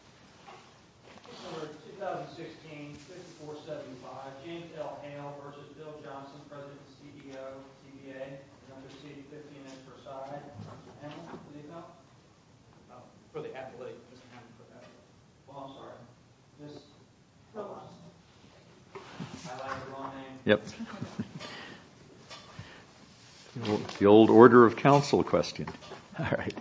v. Bill Johnson, President and CEO, CBA, and under C.A.P. 15 S. Versailles, panel, did they not? Oh, for the appellate. Well, I'm sorry. I like your long name. Yep. The old order of counsel question. All right.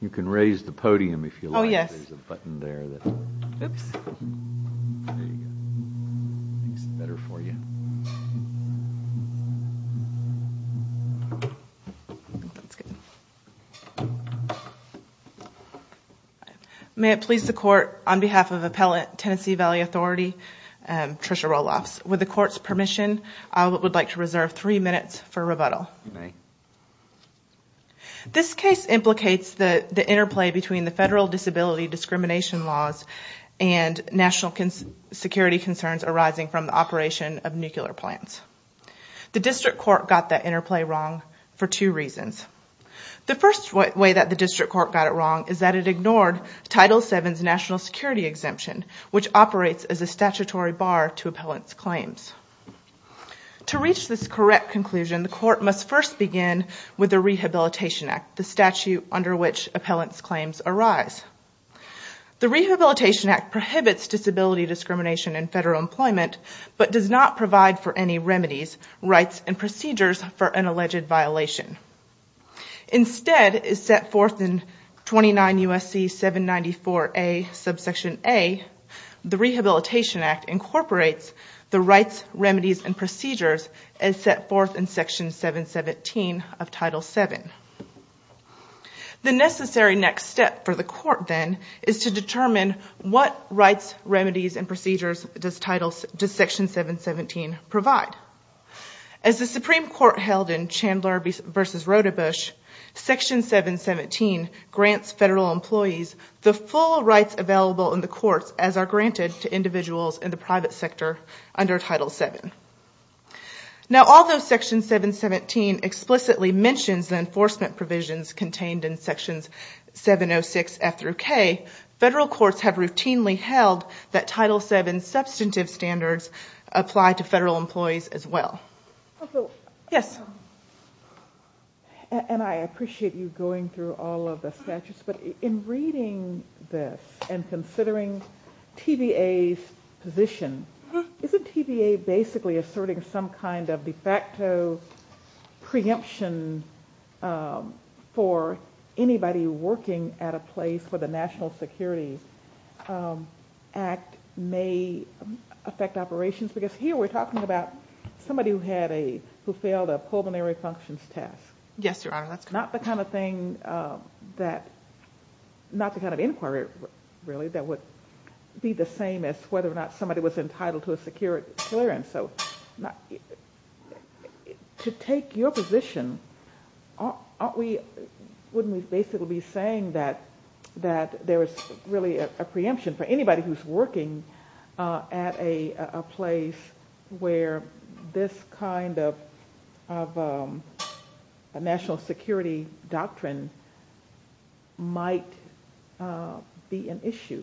You can raise the podium if you like. Oh, yes. May it please the court, on behalf of Appellate Tennessee Valley Authority, Trisha Roelofs, with the court's permission, I would like to reserve three minutes for rebuttal. Good night. This case implicates the interplay between the federal disability discrimination laws and national security concerns arising from the operation of nuclear plants. The district court got that interplay wrong for two reasons. The first way that the district court got it wrong is that it ignored Title VII's national security exemption, which operates as a statutory bar to appellant's claims. To reach this correct conclusion, the court must first begin with the Rehabilitation Act, the statute under which appellant's claims arise. The Rehabilitation Act prohibits disability discrimination in federal employment, but does not provide for any remedies, rights, and procedures for an alleged violation. Instead, as set forth in 29 U.S.C. 794A, subsection A, the Rehabilitation Act incorporates the rights, remedies, and procedures as set forth in Section 717 of Title VII. The necessary next step for the court, then, is to determine what rights, remedies, and procedures does Section 717 provide. As the Supreme Court held in Chandler v. Rodebusch, Section 717 grants federal employees the full rights available in the courts as are granted to individuals in the private sector under Title VII. Now, although Section 717 explicitly mentions the enforcement provisions contained in Sections 706F through K, federal courts have routinely held that Title VII substantive standards apply to federal employees as well. Yes? And I appreciate you going through all of the statutes, but in reading this and considering TVA's position, isn't TVA basically asserting some kind of de facto preemption for anybody working at a place where the National Security Act may affect operations? Because here we're talking about somebody who failed a pulmonary functions test. Yes, Your Honor, that's correct. Not the kind of inquiry, really, that would be the same as whether or not somebody was entitled to a secure clearance. So to take your position, wouldn't we basically be saying that there is really a preemption for anybody who's working at a place where this kind of national security doctrine might be an issue?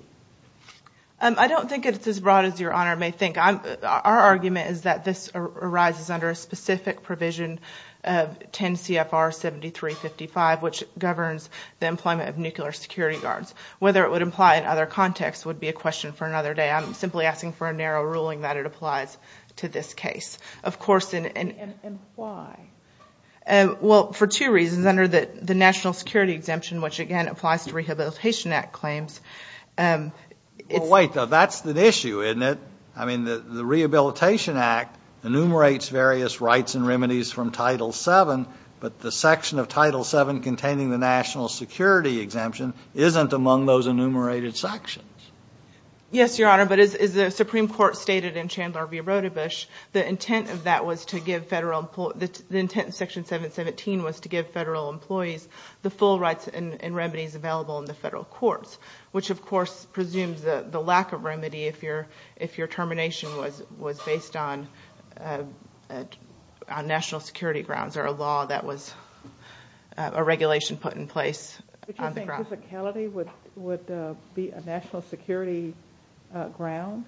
I don't think it's as broad as Your Honor may think. Our argument is that this arises under a specific provision of 10 CFR 7355, which governs the employment of nuclear security guards. Whether it would apply in other contexts would be a question for another day. I'm simply asking for a narrow ruling that it applies to this case. Of course, and why? Well, for two reasons. Under the National Security Exemption, which again applies to Rehabilitation Act claims. Well, wait, that's the issue, isn't it? I mean, the Rehabilitation Act enumerates various rights and remedies from Title VII, but the section of Title VII containing the National Security Exemption isn't among those enumerated sections. Yes, Your Honor, but as the Supreme Court stated in Chandler v. Rotterbusch, the intent of Section 717 was to give federal employees the full rights and remedies available in the federal courts, which of course presumes the lack of remedy if your termination was based on national security grounds or a law that was a regulation put in place on the ground. Would you think physicality would be a national security ground?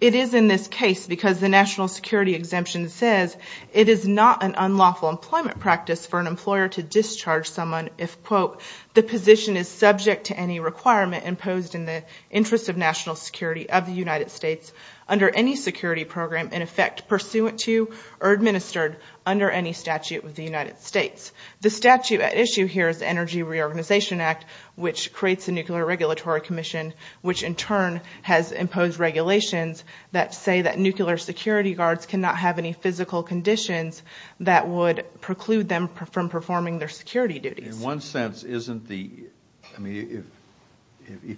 It is in this case because the National Security Exemption says it is not an unlawful employment practice for an employer to discharge someone if, quote, the position is subject to any requirement imposed in the interest of national security of the United States under any security program in effect pursuant to or administered under any statute of the United States. The statute at issue here is Energy Reorganization Act, which creates a Nuclear Regulatory Commission, which in turn has imposed regulations that say that nuclear security guards cannot have any physical conditions that would preclude them from performing their security duties. In one sense, if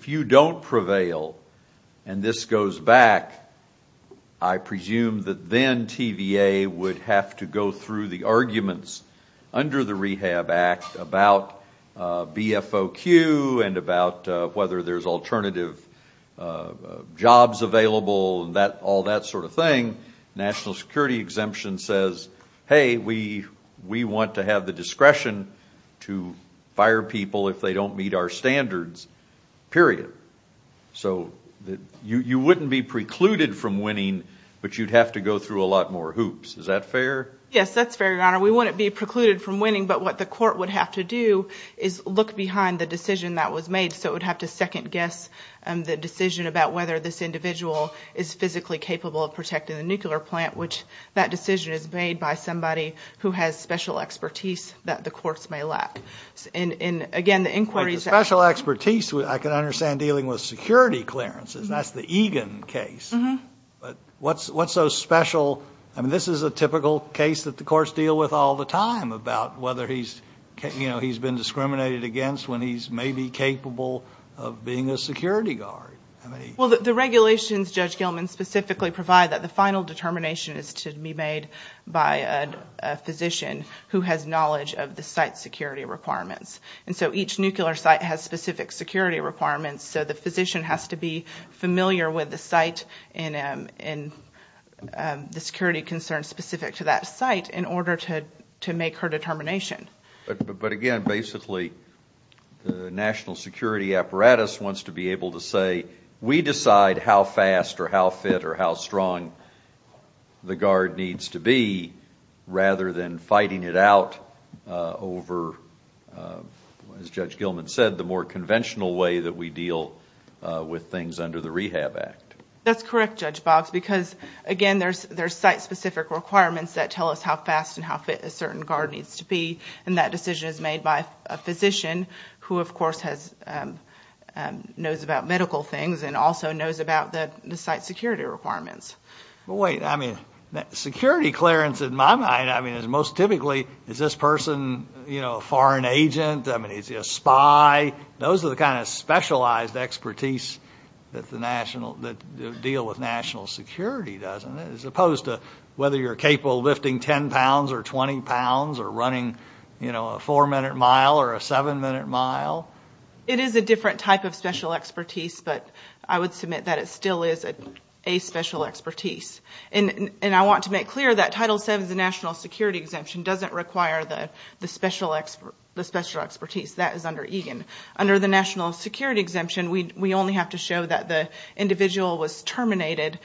you don't prevail and this goes back, I presume that then TVA would have to go through the arguments under the Rehab Act about BFOQ and about whether there's alternative jobs available and all that sort of thing. National Security Exemption says, hey, we want to have the discretion to fire people if they don't meet our standards, period. So you wouldn't be precluded from winning, but you'd have to go through a lot more hoops. Is that fair? Yes, that's fair, Your Honor. We wouldn't be precluded from winning, but what the court would have to do is look behind the decision that was made. So it would have to second guess the decision about whether this individual is physically capable of protecting the nuclear plant, which that decision is made by somebody who has special expertise that the courts may lack. And, again, the inquiry is- Special expertise, I can understand dealing with security clearances. That's the Egan case. But what's so special? I mean, this is a typical case that the courts deal with all the time about whether he's been discriminated against when he's maybe capable of being a security guard. Well, the regulations, Judge Gilman, specifically provide that the final determination is to be made by a physician who has knowledge of the site's security requirements. And so each nuclear site has specific security requirements, so the physician has to be familiar with the site and the security concerns specific to that site in order to make her determination. But, again, basically the national security apparatus wants to be able to say, we decide how fast or how fit or how strong the guard needs to be rather than fighting it out over, as Judge Gilman said, the more conventional way that we deal with things under the Rehab Act. That's correct, Judge Boggs, because, again, there's site-specific requirements that tell us how fast and how fit a certain guard needs to be, and that decision is made by a physician who, of course, knows about medical things and also knows about the site's security requirements. Well, wait. I mean, security clearance, in my mind, is most typically, is this person a foreign agent? I mean, is he a spy? Those are the kind of specialized expertise that deal with national security, as opposed to whether you're capable of lifting 10 pounds or 20 pounds or running a four-minute mile or a seven-minute mile. It is a different type of special expertise, but I would submit that it still is a special expertise. And I want to make clear that Title VII, the national security exemption, doesn't require the special expertise. That is under EGAN. Under the national security exemption, we only have to show that the individual was terminated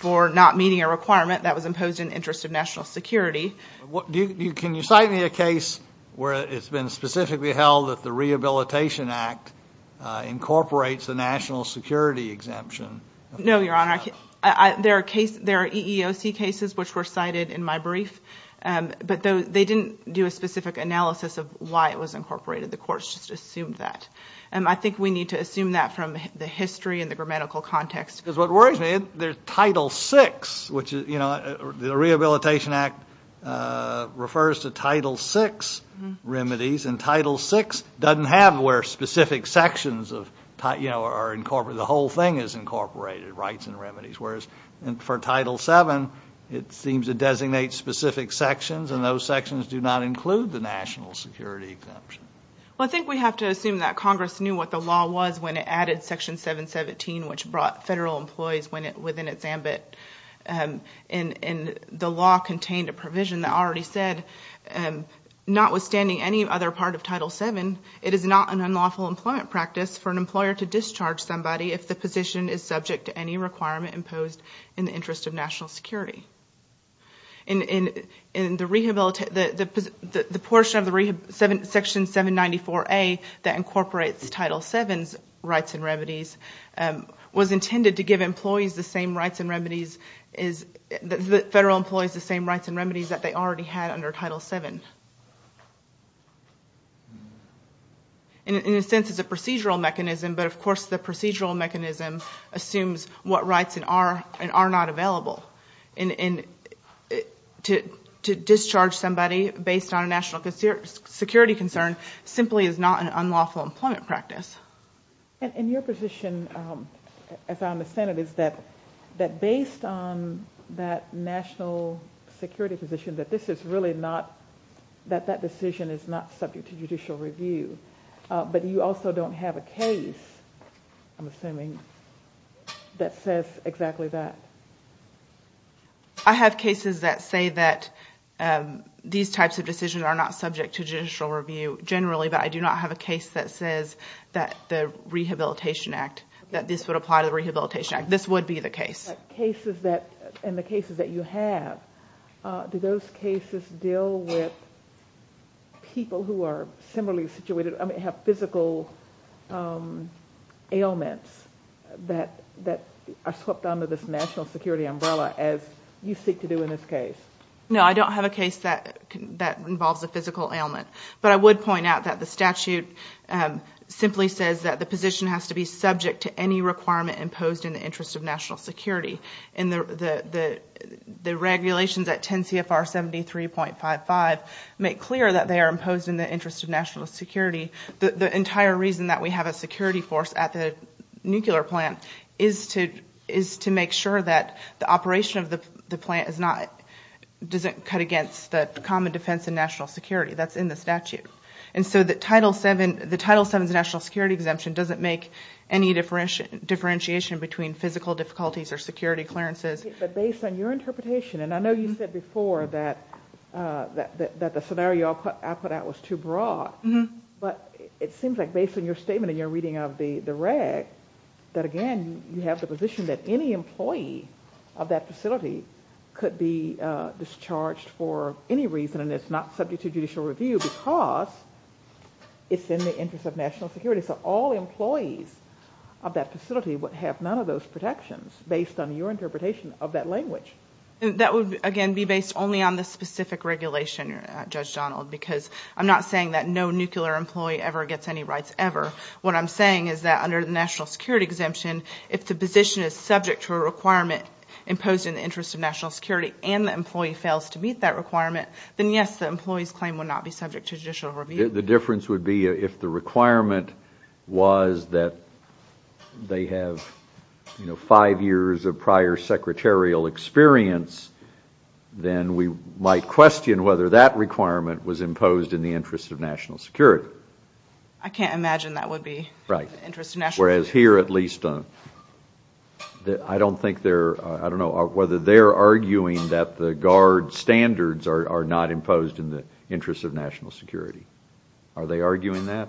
for not meeting a requirement that was imposed in the interest of national security. Can you cite me a case where it's been specifically held that the Rehabilitation Act incorporates a national security exemption? No, Your Honor. There are EEOC cases which were cited in my brief, but they didn't do a specific analysis of why it was incorporated. The courts just assumed that. I think we need to assume that from the history and the grammatical context. Because what worries me, there's Title VI, which the Rehabilitation Act refers to Title VI remedies, and Title VI doesn't have where specific sections are incorporated. The whole thing is incorporated, rights and remedies. Whereas for Title VII, it seems to designate specific sections, and those sections do not include the national security exemption. Well, I think we have to assume that Congress knew what the law was when it added Section 717, which brought federal employees within its ambit, and the law contained a provision that already said, notwithstanding any other part of Title VII, it is not an unlawful employment practice for an employer to discharge somebody if the position is subject to any requirement imposed in the interest of national security. The portion of Section 794A that incorporates Title VII's rights and remedies was intended to give federal employees the same rights and remedies that they already had under Title VII. In a sense, it's a procedural mechanism, but of course the procedural mechanism assumes what rights are and are not available. And to discharge somebody based on a national security concern simply is not an unlawful employment practice. And your position, as I understand it, is that based on that national security position, that this is really not, that that decision is not subject to judicial review, but you also don't have a case, I'm assuming, that says exactly that. I have cases that say that these types of decisions are not subject to judicial review generally, but I do not have a case that says that the Rehabilitation Act, that this would apply to the Rehabilitation Act. This would be the case. And the cases that you have, do those cases deal with people who are similarly situated, I mean have physical ailments that are swept under this national security umbrella as you seek to do in this case? No, I don't have a case that involves a physical ailment, but I would point out that the statute simply says that the position has to be subject to any requirement imposed in the interest of national security. And the regulations at 10 CFR 73.55 make clear that they are imposed in the interest of national security. The entire reason that we have a security force at the nuclear plant is to make sure that the operation of the plant is not, doesn't cut against the common defense of national security. That's in the statute. And so the Title VII's national security exemption doesn't make any differentiation between physical difficulties or security clearances. But based on your interpretation, and I know you said before that the scenario I put out was too broad, but it seems like based on your statement and your reading of the reg, that again you have the position that any employee of that facility could be discharged for any reason and it's not subject to judicial review because it's in the interest of national security. So all employees of that facility would have none of those protections based on your interpretation of that language. That would, again, be based only on the specific regulation, Judge Donald, because I'm not saying that no nuclear employee ever gets any rights ever. What I'm saying is that under the national security exemption, if the position is subject to a requirement imposed in the interest of national security and the employee fails to meet that requirement, then yes, the employee's claim would not be subject to judicial review. The difference would be if the requirement was that they have five years of prior secretarial experience, then we might question whether that requirement was imposed in the interest of national security. I can't imagine that would be in the interest of national security. Whereas here at least, I don't think they're, I don't know, whether they're arguing that the guard standards are not imposed in the interest of national security. Are they arguing that?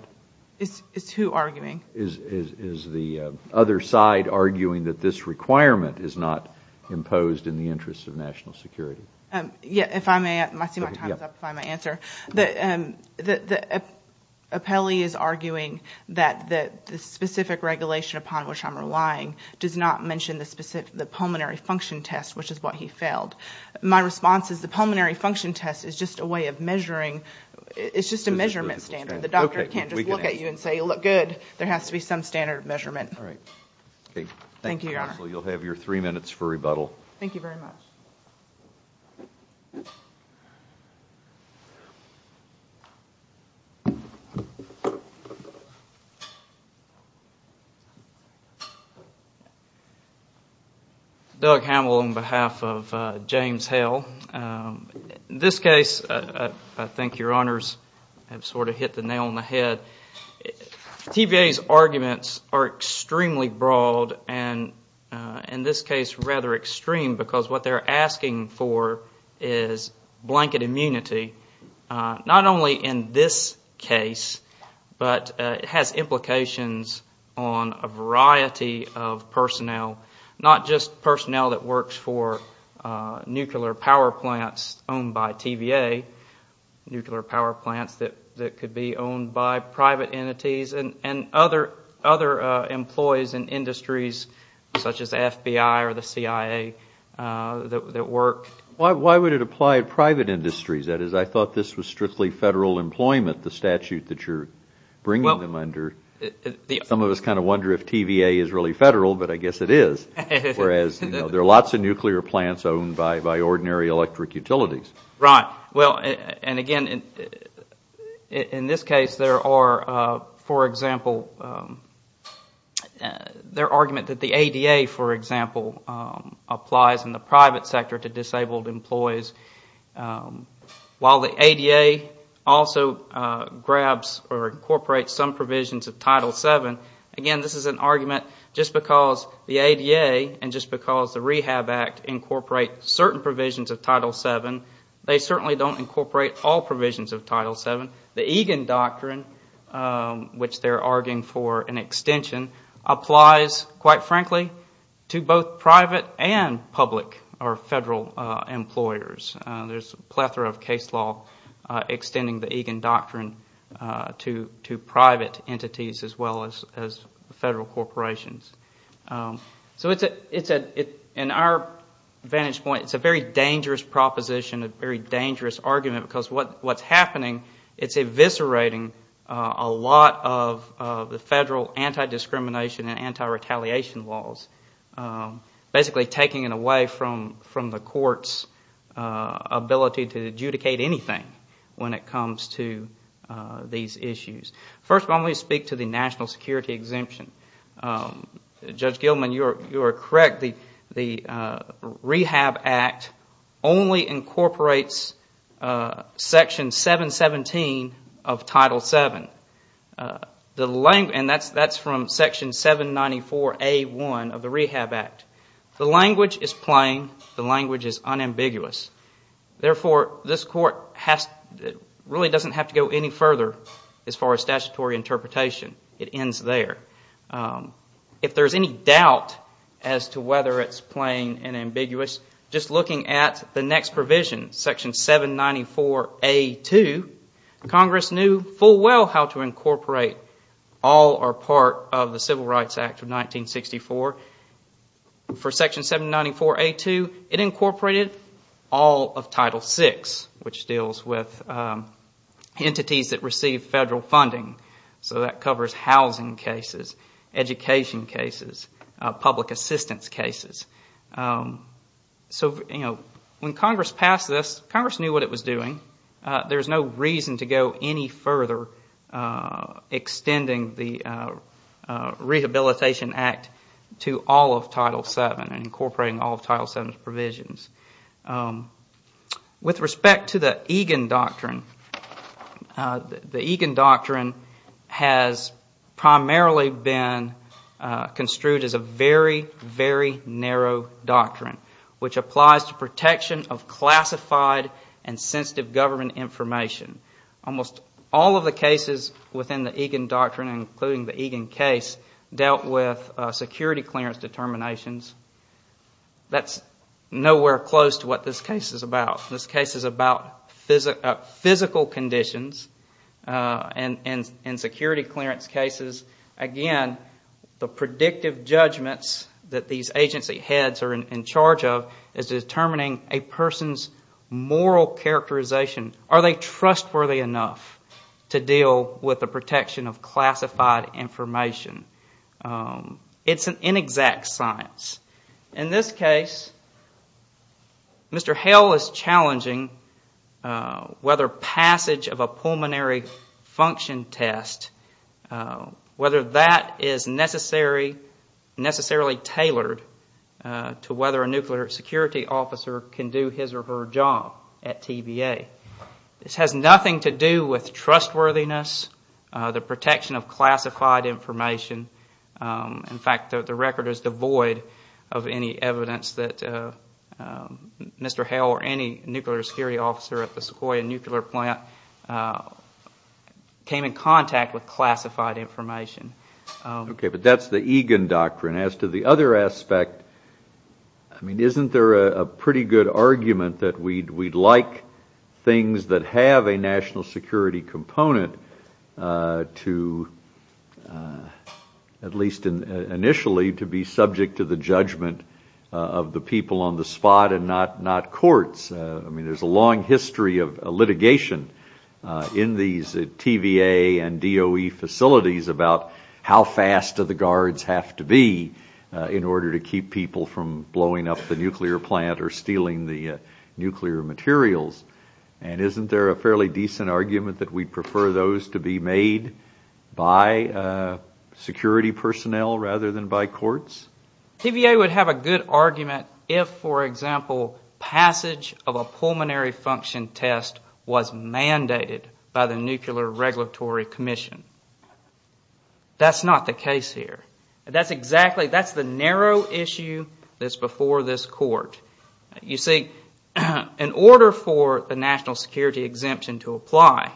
It's who arguing? Is the other side arguing that this requirement is not imposed in the interest of national security? Yeah, if I may, I see my time is up, if I may answer. The appellee is arguing that the specific regulation upon which I'm relying does not mention the pulmonary function test, which is what he failed. My response is the pulmonary function test is just a way of measuring, it's just a measurement standard. The doctor can't just look at you and say you look good. There has to be some standard of measurement. All right. Thank you, Your Honor. Thank you, counsel. You'll have your three minutes for rebuttal. Thank you very much. Thank you. Doug Hamill on behalf of James Hale. In this case, I think Your Honors have sort of hit the nail on the head. TVA's arguments are extremely broad and, in this case, rather extreme because what they're asking for is blanket immunity, not only in this case, but it has implications on a variety of personnel, not just personnel that works for nuclear power plants owned by TVA, nuclear power plants that could be owned by private entities and other employees in industries such as the FBI or the CIA that work. Why would it apply to private industries? That is, I thought this was strictly federal employment, the statute that you're bringing them under. Some of us kind of wonder if TVA is really federal, but I guess it is, whereas there are lots of nuclear plants owned by ordinary electric utilities. Right. Well, and again, in this case, there are, for example, their argument that the ADA, for example, applies in the private sector to disabled employees. While the ADA also grabs or incorporates some provisions of Title VII, again, this is an argument just because the ADA and just because the Rehab Act incorporate certain provisions of Title VII, they certainly don't incorporate all provisions of Title VII. The Egan Doctrine, which they're arguing for an extension, applies, quite frankly, to both private and public or federal employers. There's a plethora of case law extending the Egan Doctrine to private entities as well as federal corporations. So in our vantage point, it's a very dangerous proposition, a very dangerous argument because what's happening, it's eviscerating a lot of the federal anti-discrimination and anti-retaliation laws, basically taking it away from the court's ability to adjudicate anything when it comes to these issues. First, let me speak to the national security exemption. Judge Gilman, you are correct. The Rehab Act only incorporates Section 717 of Title VII, and that's from Section 794A1 of the Rehab Act. The language is plain. The language is unambiguous. Therefore, this court really doesn't have to go any further as far as statutory interpretation. It ends there. If there's any doubt as to whether it's plain and ambiguous, just looking at the next provision, Section 794A2, Congress knew full well how to incorporate all or part of the Civil Rights Act of 1964. For Section 794A2, it incorporated all of Title VI, which deals with entities that receive federal funding. So that covers housing cases, education cases, public assistance cases. So when Congress passed this, Congress knew what it was doing. There's no reason to go any further extending the Rehabilitation Act to all of Title VII and incorporating all of Title VII's provisions. With respect to the Egan Doctrine, the Egan Doctrine has primarily been construed as a very, very narrow doctrine, which applies to protection of classified and sensitive government information. Almost all of the cases within the Egan Doctrine, including the Egan case, dealt with security clearance determinations. That's nowhere close to what this case is about. This case is about physical conditions and security clearance cases. Again, the predictive judgments that these agency heads are in charge of is determining a person's moral characterization. Are they trustworthy enough to deal with the protection of classified information? It's an inexact science. In this case, Mr. Hale is challenging whether passage of a pulmonary function test, whether that is necessarily tailored to whether a nuclear security officer can do his or her job at TVA. This has nothing to do with trustworthiness, the protection of classified information. In fact, the record is devoid of any evidence that Mr. Hale or any nuclear security officer at the Sequoia nuclear plant came in contact with classified information. Okay, but that's the Egan Doctrine. As to the other aspect, isn't there a pretty good argument that we'd like things that have a national security component to, at least initially, to be subject to the judgment of the people on the spot and not courts? I mean, there's a long history of litigation in these TVA and DOE facilities about how fast the guards have to be in order to keep people from blowing up the nuclear plant or stealing the nuclear materials. And isn't there a fairly decent argument that we'd prefer those to be made by security personnel rather than by courts? TVA would have a good argument if, for example, passage of a pulmonary function test was mandated by the Nuclear Regulatory Commission. That's not the case here. That's exactly the narrow issue that's before this court. You see, in order for the national security exemption to apply,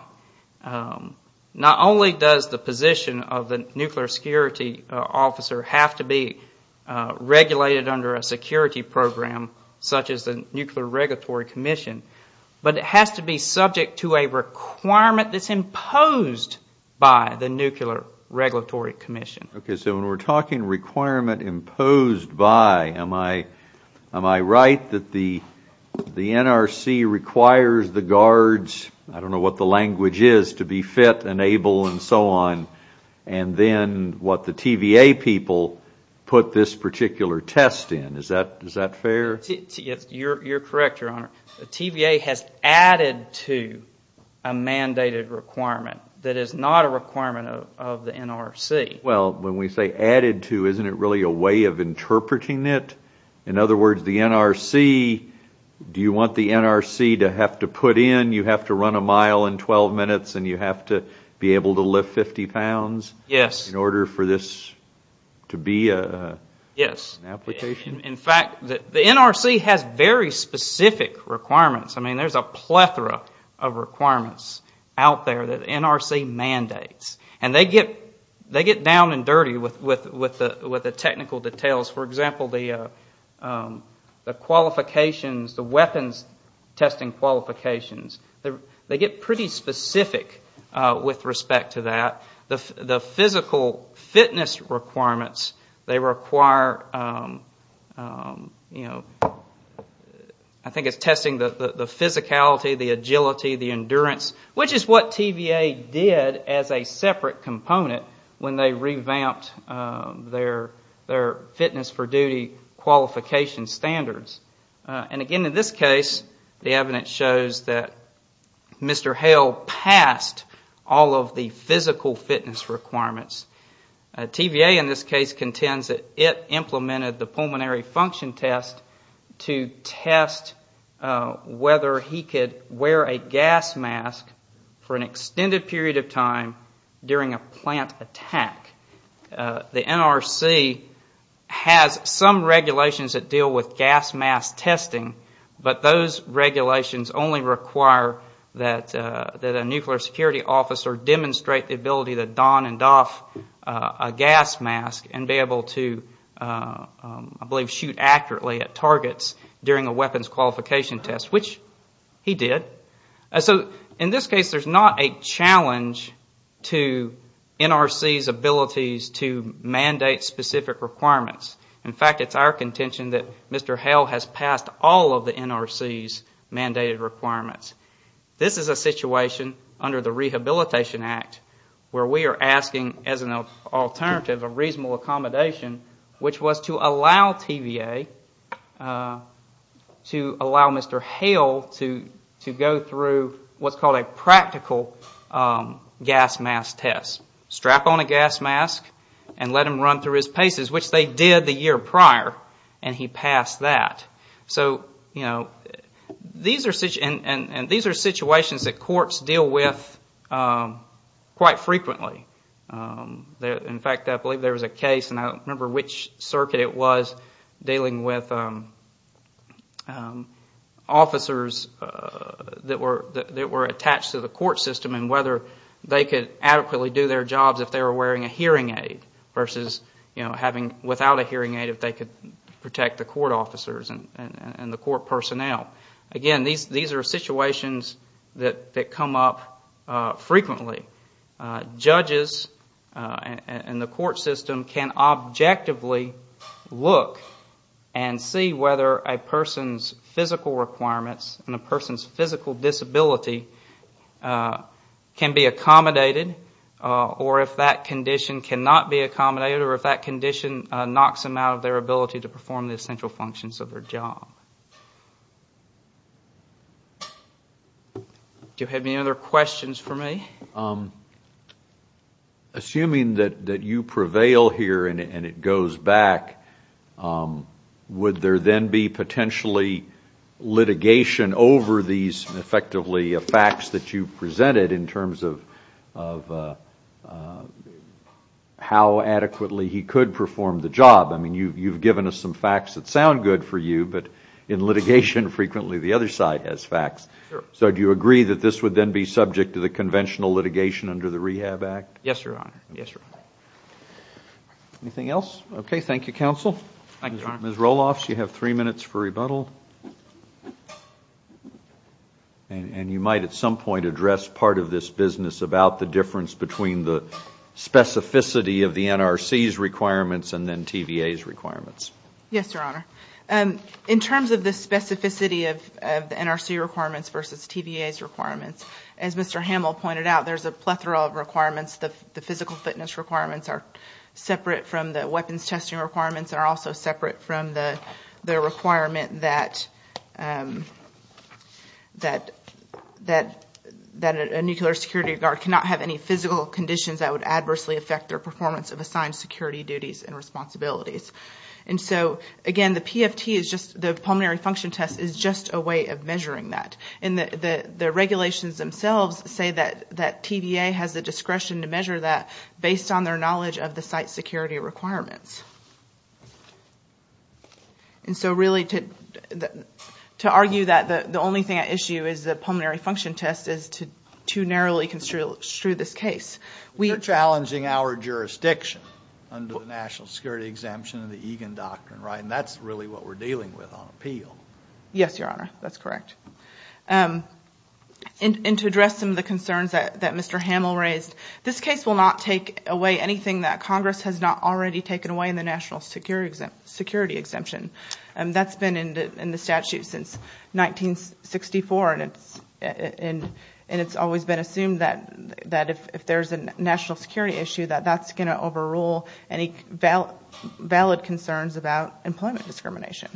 not only does the position of the nuclear security officer have to be regulated under a security program such as the Nuclear Regulatory Commission, but it has to be subject to a requirement that's imposed by the Nuclear Regulatory Commission. Okay, so when we're talking requirement imposed by, am I right that the NRC requires the guards, I don't know what the language is, to be fit and able and so on, and then what the TVA people put this particular test in. Is that fair? You're correct, Your Honor. The TVA has added to a mandated requirement that is not a requirement of the NRC. Well, when we say added to, isn't it really a way of interpreting it? In other words, the NRC, do you want the NRC to have to put in, you have to run a mile in 12 minutes and you have to be able to lift 50 pounds in order for this to be an application? Yes. In fact, the NRC has very specific requirements. I mean, there's a plethora of requirements out there that the NRC mandates, and they get down and dirty with the technical details. For example, the qualifications, the weapons testing qualifications, they get pretty specific with respect to that. The physical fitness requirements, they require, I think it's testing the physicality, the agility, the endurance, which is what TVA did as a separate component when they revamped their fitness for duty qualification standards. And again, in this case, the evidence shows that Mr. Hale passed all of the physical fitness requirements. TVA, in this case, contends that it implemented the pulmonary function test to test whether he could wear a gas mask for an extended period of time during a plant attack. The NRC has some regulations that deal with gas mask testing, but those regulations only require that a nuclear security officer demonstrate the ability to don and doff a gas mask and be able to, I believe, shoot accurately at targets during a weapons qualification test, which he did. In this case, there's not a challenge to NRC's abilities to mandate specific requirements. In fact, it's our contention that Mr. Hale has passed all of the NRC's mandated requirements. This is a situation under the Rehabilitation Act where we are asking, as an alternative, a reasonable accommodation, which was to allow TVA, to allow Mr. Hale to go through what's called a practical gas mask test. Strap on a gas mask and let him run through his paces, which they did the year prior, and he passed that. And these are situations that courts deal with quite frequently. In fact, I believe there was a case, and I don't remember which circuit it was, dealing with officers that were attached to the court system and whether they could adequately do their jobs if they were wearing a hearing aid versus without a hearing aid if they could protect the court officers and the court personnel. Again, these are situations that come up frequently. Judges and the court system can objectively look and see whether a person's physical requirements and a person's physical disability can be accommodated or if that condition cannot be accommodated or if that condition knocks them out of their ability to perform the essential functions of their job. Do you have any other questions for me? Assuming that you prevail here and it goes back, would there then be potentially litigation over these effectively facts that you presented in terms of how adequately he could perform the job? I mean, you've given us some facts that sound good for you, but in litigation, frequently the other side has facts. So do you agree that this would then be subject to the conventional litigation under the Rehab Act? Yes, Your Honor. Anything else? Okay, thank you, counsel. Ms. Roloff, you have three minutes for rebuttal. And you might at some point address part of this business about the difference between the specificity of the NRC's requirements and then TVA's requirements. Yes, Your Honor. In terms of the specificity of the NRC requirements versus TVA's requirements, as Mr. Hamill pointed out, there's a plethora of requirements. The physical fitness requirements are separate from the weapons testing requirements and are also separate from the requirement that a nuclear security guard cannot have any physical conditions that would adversely affect their performance of assigned security duties and responsibilities. And so, again, the PFT, the pulmonary function test, is just a way of measuring that. And the regulations themselves say that TVA has the discretion to measure that based on their knowledge of the site security requirements. And so really to argue that the only thing at issue is the pulmonary function test is too narrowly construed this case. You're challenging our jurisdiction under the National Security Exemption and the Egan Doctrine, right? And that's really what we're dealing with on appeal. Yes, Your Honor. That's correct. And to address some of the concerns that Mr. Hamill raised, this case will not take away anything that Congress has not already taken away in the National Security Exemption. That's been in the statute since 1964, and it's always been assumed that if there's a national security issue, that that's going to overrule any valid concerns about employment discrimination.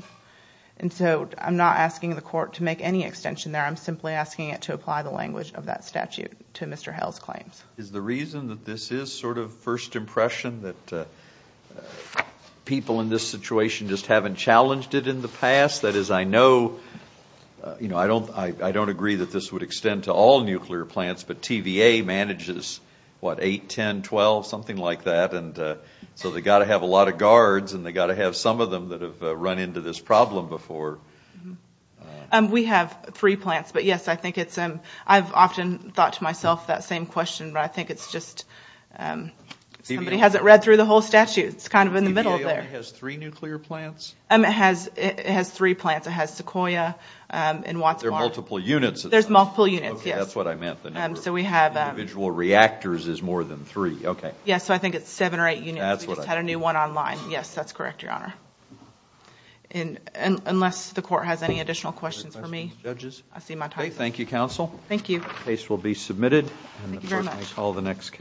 And so I'm not asking the court to make any extension there. I'm simply asking it to apply the language of that statute to Mr. Hale's claims. Is the reason that this is sort of first impression that people in this situation just haven't challenged it in the past? That is, I know, you know, I don't agree that this would extend to all nuclear plants, but TVA manages, what, 8, 10, 12, something like that. And so they've got to have a lot of guards, and they've got to have some of them that have run into this problem before. We have three plants. But, yes, I've often thought to myself that same question, but I think it's just somebody hasn't read through the whole statute. It's kind of in the middle there. TVA only has three nuclear plants? It has three plants. It has Sequoia and Wadsworth. But there are multiple units. There's multiple units, yes. Okay, that's what I meant. The number of individual reactors is more than three, okay. Yes, so I think it's seven or eight units. We just had a new one online. Yes, that's correct, Your Honor. Unless the court has any additional questions for me, I see my time is up. Okay, thank you, counsel. Thank you. The case will be submitted. Thank you very much. Let me call the next case.